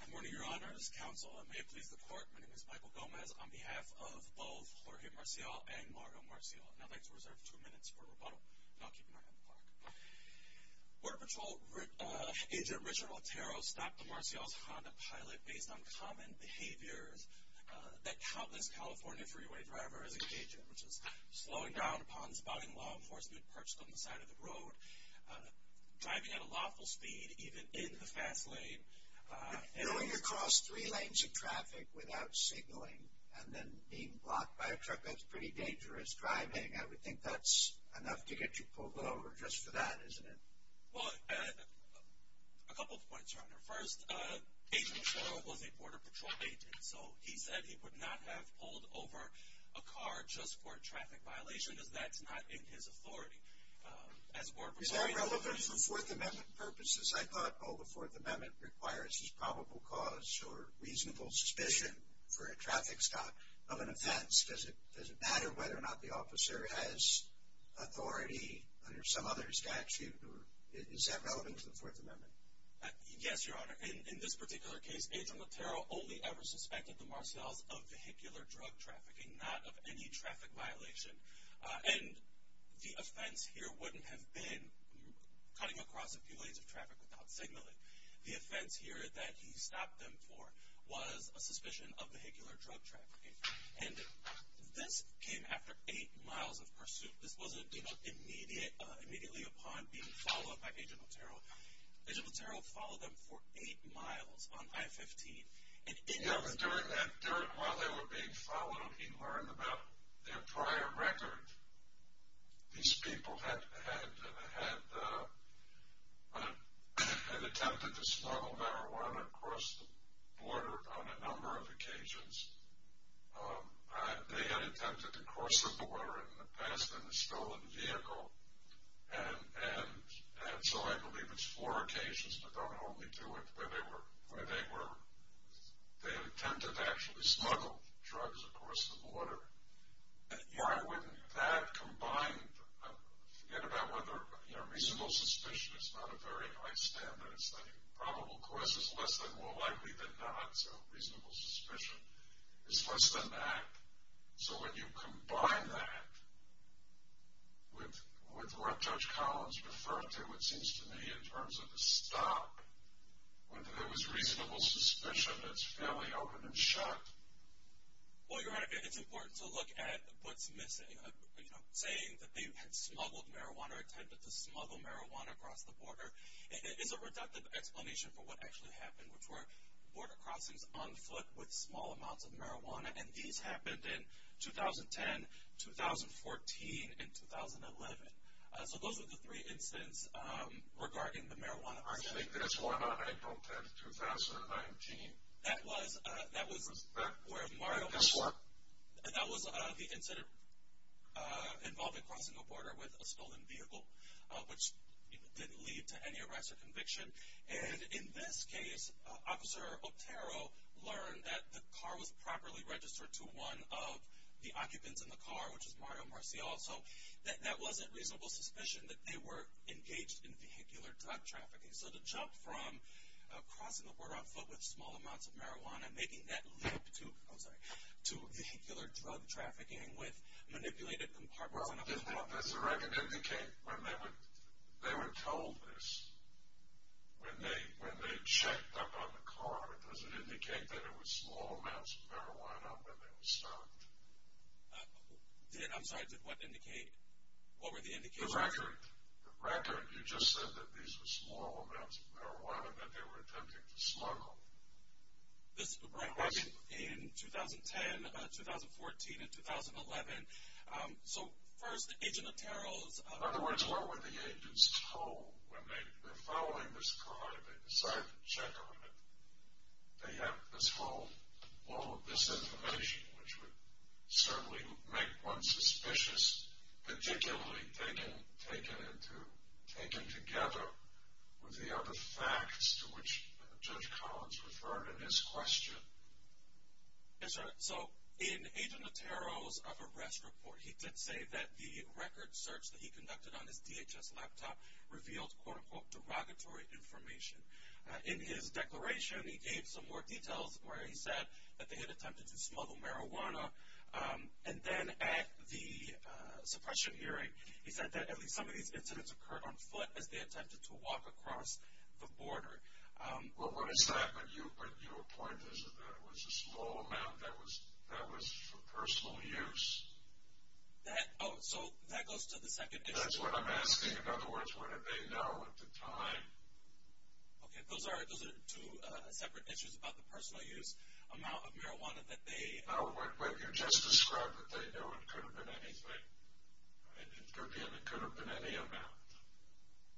Good morning, Your Honors, Counsel, and may it please the Court, my name is Michael Gomez on behalf of both Jorge Marcial and Mario Marcial, and I'd like to reserve two minutes for rebuttal, and I'll keep an eye on the clock. Border Patrol Agent Richard Otero stopped the Marcial's Honda Pilot based on common behaviors that countless California freeway drivers engage in, which is slowing down upon spotting law enforcement perched on the side of the road, driving at a lawful speed, even in the fast lane, and going across three lanes of traffic without signaling, and then being blocked by a truck, that's pretty dangerous driving, I would think that's enough to get you pulled over just for that, isn't it? Well, a couple of points, Your Honor, first, Agent Otero was a Border Patrol agent, so he said he would not have pulled over a car just for a traffic violation, as that's not in his authority. Is that relevant for Fourth Amendment purposes? I thought, oh, the Fourth Amendment requires probable cause or reasonable suspicion for a traffic stop of an offense, does it matter whether or not the officer has authority under some other statute, or is that relevant to the Fourth Amendment? Yes, Your Honor, in this particular case, Agent Otero only ever suspected the Marcial's of vehicular drug trafficking, not of any traffic violation, and the offense here wouldn't have been cutting across a few lanes of traffic without signaling. The offense here that he stopped them for was a suspicion of vehicular drug trafficking, and this came after eight miles of pursuit, this wasn't, you know, immediately upon being followed by Agent Otero, Agent Otero followed them for eight miles on I-15, and in the... Yeah, but during that, while they were being followed, he learned about their prior record. These people had attempted to smuggle marijuana across the border on a number of occasions, they had attempted to cross the border in the past in a stolen vehicle, and so I believe it's four occasions, but don't hold me to it, where they were, they attempted to actually smuggle drugs across the border. Yeah, I wouldn't, that combined, I forget about whether, you know, reasonable suspicion is not a very high standard, it's that probable cause is less than more likely than not, so it's less than that, so when you combine that with what Judge Collins referred to, it seems to me, in terms of the stop, whether there was reasonable suspicion, it's fairly open and shut. Well, you're right, it's important to look at what's missing, you know, saying that they had smuggled marijuana, attempted to smuggle marijuana across the border, it's a reductive explanation for what actually happened, which were border crossings on foot with small amounts of marijuana, and these happened in 2010, 2014, and 2011, so those are the three incidents regarding the marijuana arson. I think there's one on April 10th, 2019. That was, that was where Mario was, that was the incident involving crossing a border with a stolen vehicle, which didn't lead to any arrest or conviction, and in this case, Officer Otero learned that the car was properly registered to one of the occupants in the car, which is Mario Marcial, so that wasn't reasonable suspicion that they were engaged in vehicular drug trafficking, so to jump from crossing the border on foot with small amounts of marijuana, making that leap to, I'm sorry, to vehicular drug trafficking with manipulated compartments in a car. Does the record indicate, when they were told this, when they checked up on the car, does it indicate that it was small amounts of marijuana when they were stopped? Did, I'm sorry, did what indicate, what were the indications? The record, the record, you just said that these were small amounts of marijuana that they were attempting to smuggle. This record in 2010, 2014, and 2011, so first, Agent Otero's... In other words, what were the agents told when they, they're following this car and they decide to check on it, they have this whole, all of this information, which would certainly make one suspicious, particularly taken, taken into, taken together with the facts to which Judge Collins referred in his question. Yes, sir, so in Agent Otero's arrest report, he did say that the record search that he conducted on his DHS laptop revealed, quote, unquote, derogatory information. In his declaration, he gave some more details where he said that they had attempted to smuggle marijuana, and then at the suppression hearing, he said that at least some of these incidents occurred on foot as they attempted to walk across the border. Well, what is that? But you, but your point is that it was a small amount that was, that was for personal use? That, oh, so that goes to the second issue. That's what I'm asking. In other words, what did they know at the time? Okay, those are, those are two separate issues about the personal use amount of marijuana that they... Oh, but you just described that they knew it could have been anything. It could be, and it could have been any amount.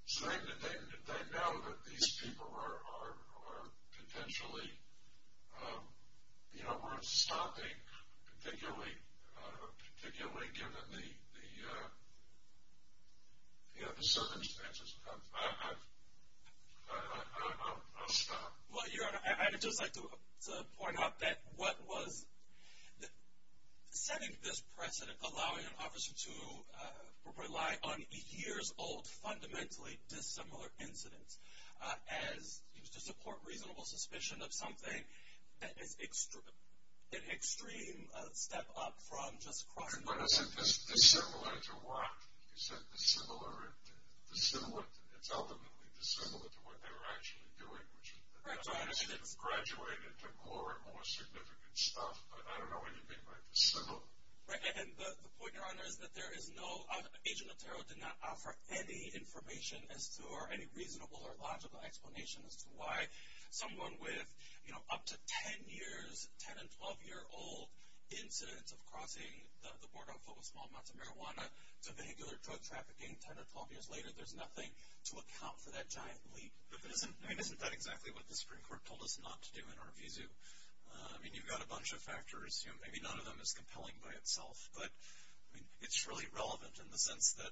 So they, they, they know that these people are, are, are potentially, you know, worth stopping, particularly, particularly given the, the, you know, the circumstances. I, I, I, I'll stop. Well, Your Honor, I would just like to point out that what was, setting this precedent, allowing an officer to rely on a years-old, fundamentally dissimilar incident as used to support reasonable suspicion of something, that is extreme, an extreme step up from just crossing the border. But isn't this dissimilar to what? You said dissimilar, dissimilar, it's ultimately dissimilar to what they were actually doing, which is that they graduated to more and more significant stuff. But I don't know what you mean by dissimilar. Right, and the, the point, Your Honor, is that there is no, Agent Otero did not offer any information as to, or any reasonable or logical explanation as to why someone with, you know, up to 10 years, 10 and 12-year-old incidents of crossing the border on foot with small amounts of marijuana to vehicular drug trafficking 10 or 12 years later, there's nothing to account for that giant leap. But that isn't, I mean, isn't that exactly what the Supreme Court told us not to do in our vizu? I mean, you've got a bunch of factors, you know, maybe none of them is compelling by itself. But, I mean, it's really relevant in the sense that,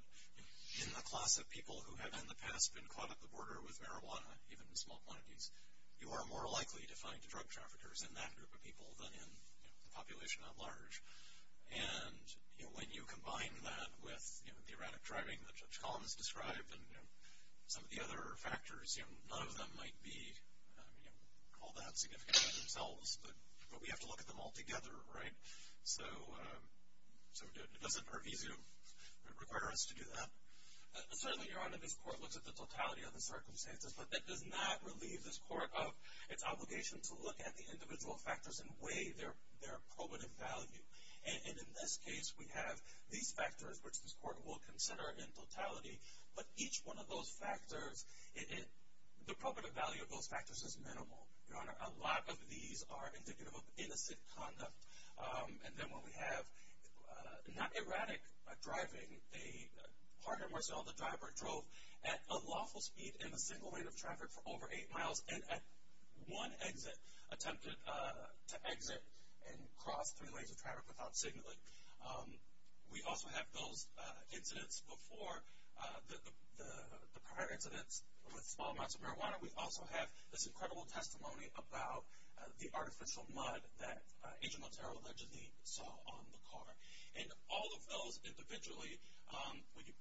you know, in the class of people who have in the past been caught at the border with marijuana, even in small quantities, you are more likely to find drug traffickers in that group of people than in, you know, the population at large. And, you know, when you combine that with, you know, the erratic driving that Judge Collins described and, you know, some of the other factors, you know, none of them might be, you know, all that significant by themselves, but we have to look at them all together, right? So, does it per vizu require us to do that? Certainly, Your Honor, this Court looks at the totality of the circumstances, but that does not relieve this Court of its obligation to look at the individual factors and weigh their probative value. And in this case, we have these factors, which this Court will consider in totality, but each one of those factors, the probative value of those factors is minimal, Your Honor. A lot of these are indicative of innocent conduct. And then when we have not erratic driving, a partner, Marcel, the driver drove at unlawful speed in a single lane of traffic for over eight miles and at one exit attempted to exit and cross three lanes of traffic without signaling. We also have those incidents before, the prior incidents with small amounts of marijuana. We also have this incredible testimony about the artificial mud that Agent Montero allegedly saw on the car. And all of those individually, when you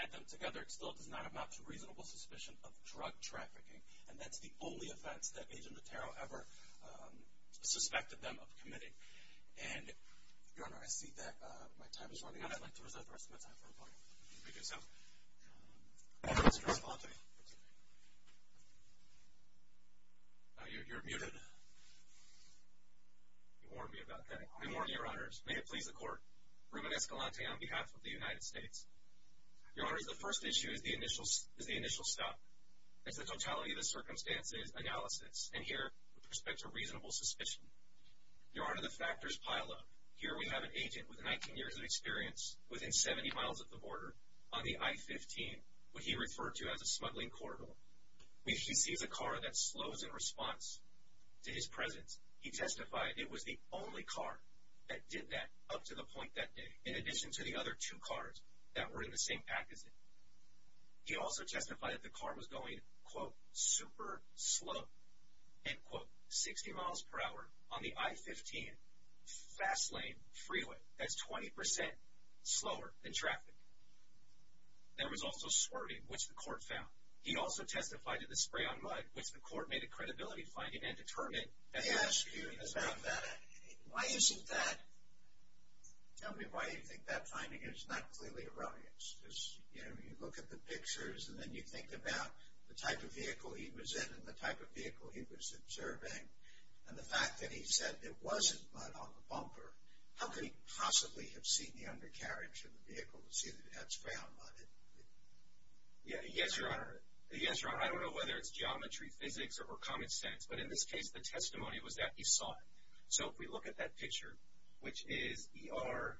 add them together, it still does not amount to reasonable suspicion of drug trafficking. And that's the only offense that Agent Montero ever suspected them of committing. And, Your Honor, I see that my time is running out. I'd like to reserve the rest of my time for the Plaintiff. Okay, so, Mr. Escalante. You're muted. You warned me about that. Good morning, Your Honors. May it please the Court, Ruben Escalante on behalf of the United States. Your Honors, the first issue is the initial stop. It's the totality of the circumstances analysis. And here, with respect to reasonable suspicion. Your Honor, the factors pile up. Here we have an agent with 19 years of experience within 70 miles of the border on the I-15, what he referred to as a smuggling corridor. We see the car that slows in response to his presence. He testified it was the only car that did that up to the point that day, in addition to the other two cars that were in the same package. He also testified that the car was going, quote, super slow, end quote, 60 miles per hour on the I-15 fast lane freeway. That's 20% slower than traffic. There was also swerving, which the Court found. He also testified to the spray on mud, which the Court made a credibility finding and determined that the speed was not bad at all. Why isn't that? Tell me why you think that finding is not clearly erroneous. You know, you look at the pictures, and then you think about the type of vehicle he was in and the type of vehicle he was observing, and the fact that he said it wasn't mud on the bumper. How could he possibly have seen the undercarriage of the vehicle to see that it had spray on mud? Yeah, yes, Your Honor. Yes, Your Honor. I don't know whether it's geometry, physics, or common sense, but in this case, the testimony was that he saw it. So if we look at that picture, which is ER,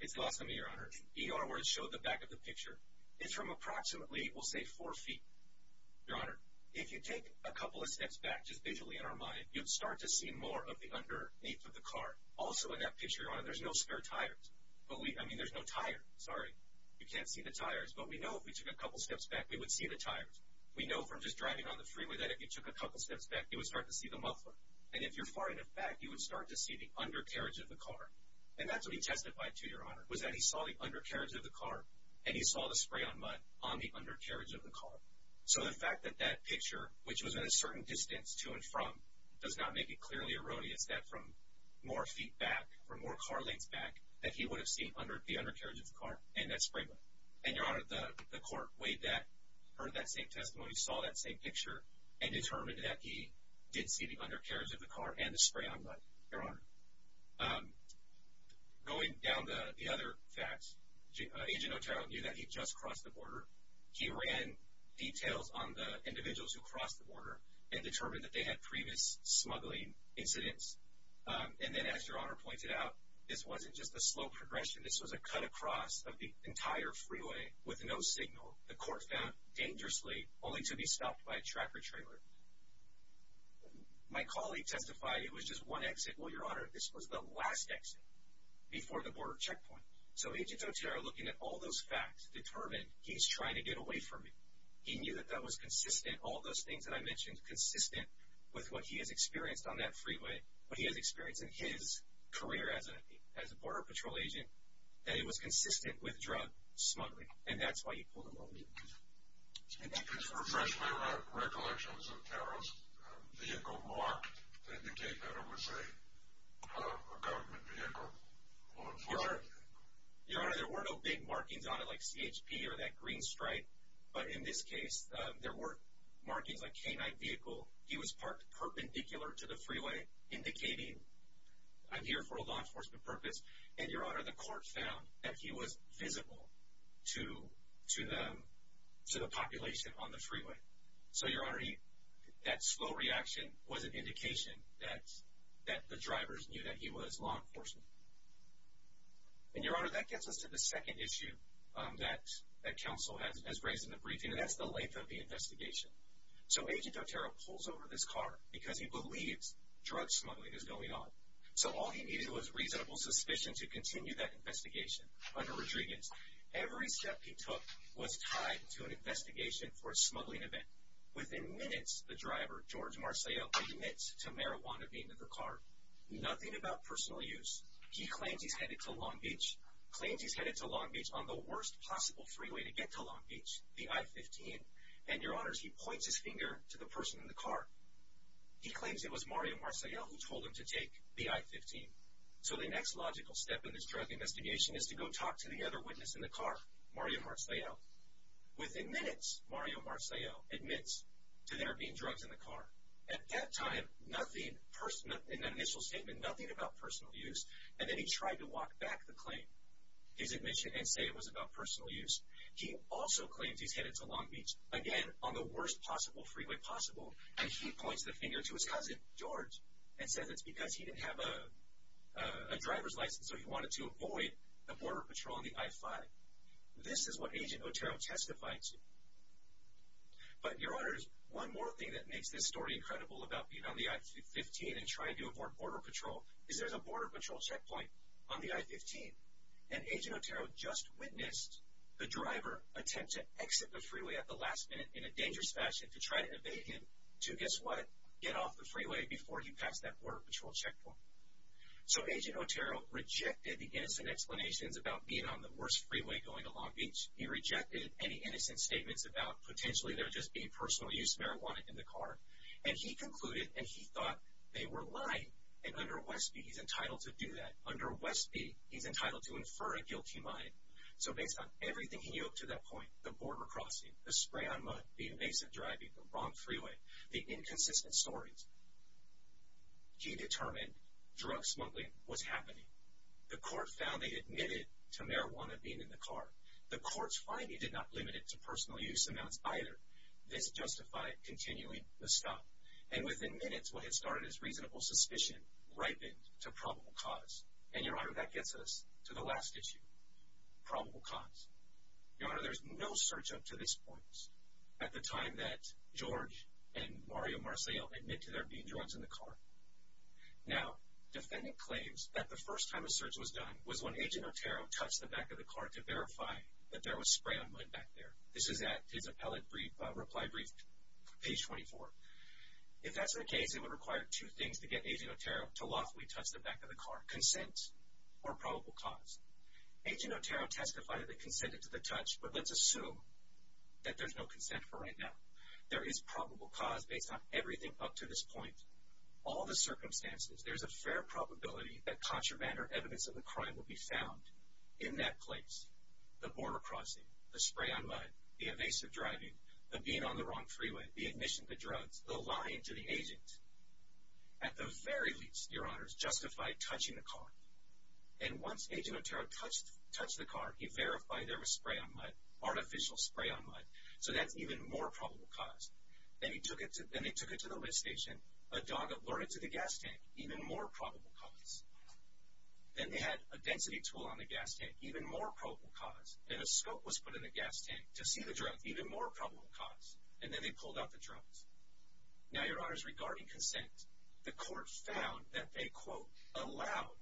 it's lost on me, Your Honor. ER, where it showed the back of the picture, is from approximately, we'll say, four feet. Your Honor, if you take a couple of steps back, just visually in our mind, you'd start to see more of the underneath of the car. Also in that picture, Your Honor, there's no spare tires. But we, I mean, there's no tire. Sorry. You can't see the tires. But we know if we took a couple steps back, we would see the tires. We know from just driving on the freeway that if you took a couple steps back, you would start to see the muffler. And if you're far enough back, you would start to see the undercarriage of the car. And that's what he testified to, Your Honor, was that he saw the undercarriage of the car and he saw the spray on mud on the undercarriage of the car. So the fact that that picture, which was at a certain distance to and from, does not make it clearly erroneous that from more feet back, from more car lengths back, that he would have seen the undercarriage of the car and that spray mud. And Your Honor, the court weighed that, heard that same testimony, saw that same picture, and determined that he did see the undercarriage of the car and the spray on mud, Your Honor. Going down the other facts, Agent Otero knew that he'd just crossed the border. He ran details on the individuals who crossed the border and determined that they had previous smuggling incidents. And then, as Your Honor pointed out, this wasn't just a slow progression. This was a cut across of the entire freeway with no signal. The court found, dangerously, only to be stopped by a tracker trailer. My colleague testified it was just one exit. Well, Your Honor, this was the last exit before the border checkpoint. So Agent Otero, looking at all those facts, determined he's trying to get away from me. He knew that that was consistent, all those things that I mentioned, consistent with what he has experienced on that freeway, what he has experienced in his career as a Border Patrol agent, that it was consistent with drug smuggling. And that's why you pulled him over. And that's why... Professionally, were there recollections of Otero's vehicle marked to indicate that it was a government vehicle, law enforcement vehicle? Your Honor, there were no big markings on it like CHP or that green stripe. But in this case, there were markings like canine vehicle. He was parked perpendicular to the freeway, indicating, I'm here for law enforcement purpose. And, Your Honor, the court found that he was visible to the population on the freeway. So, Your Honor, that slow reaction was an indication that the drivers knew that he was law enforcement. And, Your Honor, that gets us to the second issue that counsel has raised in the briefing, and that's the length of the investigation. So Agent Otero pulls over this car because he believes drug smuggling is going on. So all he needed was reasonable suspicion to continue that investigation under Rodriguez. Every step he took was tied to an investigation for a smuggling event. Within minutes, the driver, George Marseille, admits to marijuana being in the car, nothing about personal use. He claims he's headed to Long Beach, claims he's headed to Long Beach on the worst possible freeway to get to Long Beach, the I-15. And, Your Honors, he points his finger to the person in the car. He claims it was Mario Marseille who told him to take the I-15. So the next logical step in this drug investigation is to go talk to the other witness in the car, Mario Marseille. Within minutes, Mario Marseille admits to there being drugs in the car. At that time, nothing, an initial statement, nothing about personal use, and then he tried to walk back the claim, his admission, and say it was about personal use. He also claims he's headed to Long Beach, again, on the worst possible freeway possible, and he points the finger to his cousin, George, and says it's because he didn't have a driver's license, so he wanted to avoid the Border Patrol and the I-5. This is what Agent Otero testified to. But, Your Honors, one more thing that makes this story incredible about being on the I-15 and trying to avoid Border Patrol is there's a Border Patrol checkpoint on the I-15, and Agent Otero just witnessed the driver attempt to exit the freeway at the last minute in a dangerous fashion to try to evade him to, guess what, get off the freeway before he passed that Border Patrol checkpoint. So, Agent Otero rejected the innocent explanations about being on the worst freeway going to Long Beach. He rejected any innocent statements about potentially there just being personal use marijuana in the car, and he concluded, and he thought they were lying, and under Westby, he's entitled to do that. Under Westby, he's entitled to infer a guilty mind. So, based on everything he knew up to that point, the border crossing, the spray on mud, the innocent driving the wrong freeway, the inconsistent stories, he determined drug smuggling was happening. The court found they admitted to marijuana being in the car. The courts find he did not limit it to personal use amounts either. This justified continuing the stop, and within minutes, what had started as reasonable suspicion ripened to probable cause. And, Your Honor, that gets us to the last issue, probable cause. Your Honor, there's no search up to this point. At the time that George and Mario Marcel admitted there being drugs in the car. Now, defendant claims that the first time a search was done was when Agent Otero touched the back of the car to verify that there was spray on mud back there. This is at his appellate reply brief, page 24. If that's the case, it would require two things to get Agent Otero to lawfully touch the back of the car, consent or probable cause. Agent Otero testified that they consented to the touch, but let's assume that there's no consent for right now. There is probable cause based on everything up to this point. All the circumstances, there's a fair probability that contraband or evidence of the crime will be found in that place. The border crossing, the spray on mud, the evasive driving, the being on the wrong freeway, the admission to drugs, the lying to the agent. At the very least, Your Honor, it's justified touching the car. And once Agent Otero touched the car, he verified there was spray on mud, artificial spray on mud. So that's even more probable cause. Then he took it to the lift station. A dog alerted to the gas tank, even more probable cause. Then they had a density tool on the gas tank, even more probable cause. And a scope was put in the gas tank to see the drugs, even more probable cause. And then they pulled out the drugs. Now, Your Honors, regarding consent, the court found that they, quote, allowed,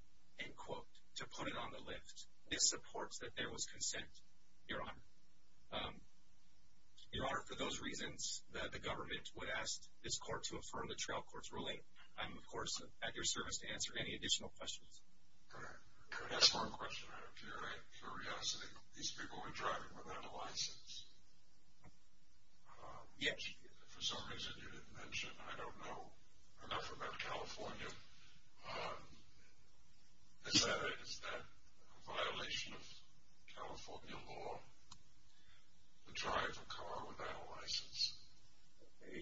end quote, to put it on the lift. This supports that there was consent, Your Honor. Your Honor, for those reasons that the government would ask this court to affirm the trial court's ruling, I'm, of course, at your service to answer any additional questions. Could I ask one question, Your Honor, out of curiosity? These people were driving without a license. Yes. For some reason, you didn't mention. I don't know enough about California. Is that a violation of California law? To drive a car without a license?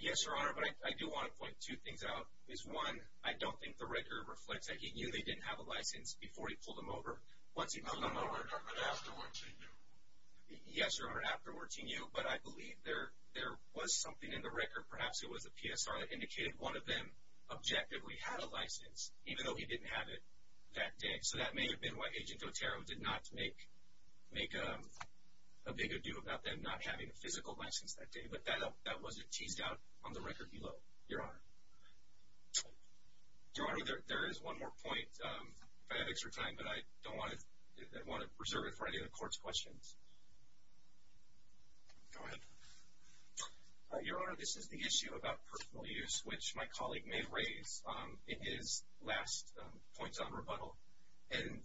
Yes, Your Honor, but I do want to point two things out. Is one, I don't think the record reflects that he knew they didn't have a license before he pulled them over. Once he pulled them over. No, no, no, no, but afterwards he knew. Yes, Your Honor, afterwards he knew. But I believe there was something in the record, perhaps it was a PSR, that indicated one of them objectively had a license, even though he didn't have it that day. So that may have been why Agent Otero did not make a big adieu about them not having a physical license that day. But that wasn't teased out on the record below, Your Honor. Your Honor, there is one more point, if I have extra time, but I don't want to reserve it for any of the court's questions. Go ahead. Your Honor, this is the issue about personal use, which my colleague may raise in his last points on rebuttal. And,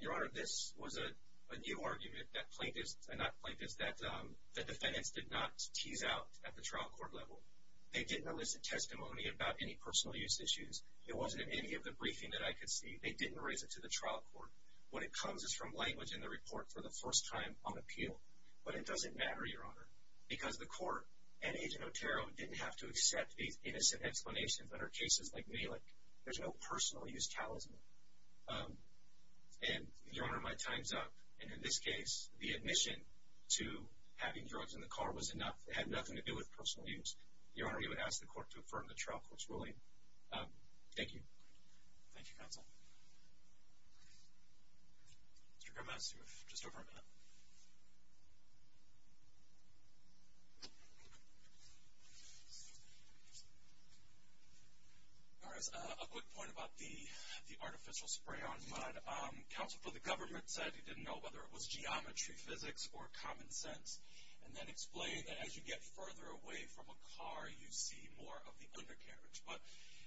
Your Honor, this was a new argument that plaintiffs, not plaintiffs, that the defendants did not tease out at the trial court level. They didn't elicit testimony about any personal use issues. It wasn't in any of the briefing that I could see. They didn't raise it to the trial court. What it comes is from language in the report for the first time on appeal. But it doesn't matter, Your Honor, because the court and Agent Otero didn't have to accept these innocent explanations under cases like Malik. There's no personal use talisman. And, Your Honor, my time's up. And in this case, the admission to having drugs in the car was enough. It had nothing to do with personal use. Your Honor, you would ask the court to affirm the trial court's ruling. Thank you. Thank you, counsel. Mr. Gomez, you have just over a minute. All right. A quick point about the artificial spray on mud. Counsel for the government said he didn't know whether it was geometry, physics, or common sense, and then explained that as you get further away from a car, you see more of the undercarriage. But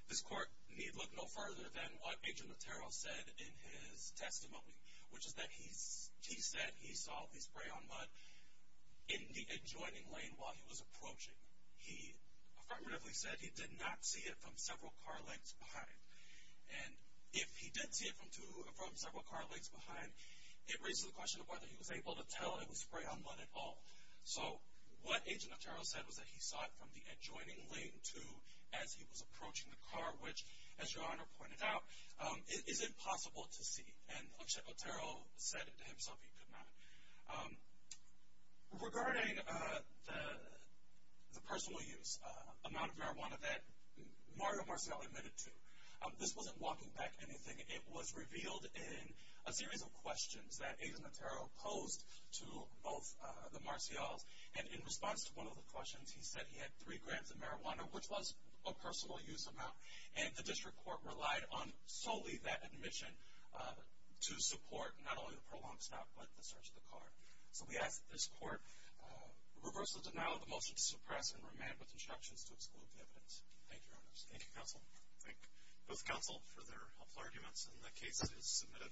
this court need look no further than what Agent Otero said in his testimony, which is he said he saw the spray on mud in the adjoining lane while he was approaching. He affirmatively said he did not see it from several car lengths behind. And if he did see it from several car lengths behind, it raises the question of whether he was able to tell it was spray on mud at all. So what Agent Otero said was that he saw it from the adjoining lane to as he was approaching the car, which, as Your Honor pointed out, is impossible to see. And Otero said to himself he could not. Regarding the personal use amount of marijuana that Mario Marcial admitted to, this wasn't walking back anything. It was revealed in a series of questions that Agent Otero posed to both the Marcials. And in response to one of the questions, he said he had three grams of marijuana, which was a personal use amount. And the district court relied on solely that admission to support not only the prolonged stop, but the search of the car. So we ask that this court reverse the denial of the motion to suppress and remand with instructions to exclude the evidence. Thank you, Your Honors. Thank you, counsel. Thank both counsel for their helpful arguments, and the case is submitted.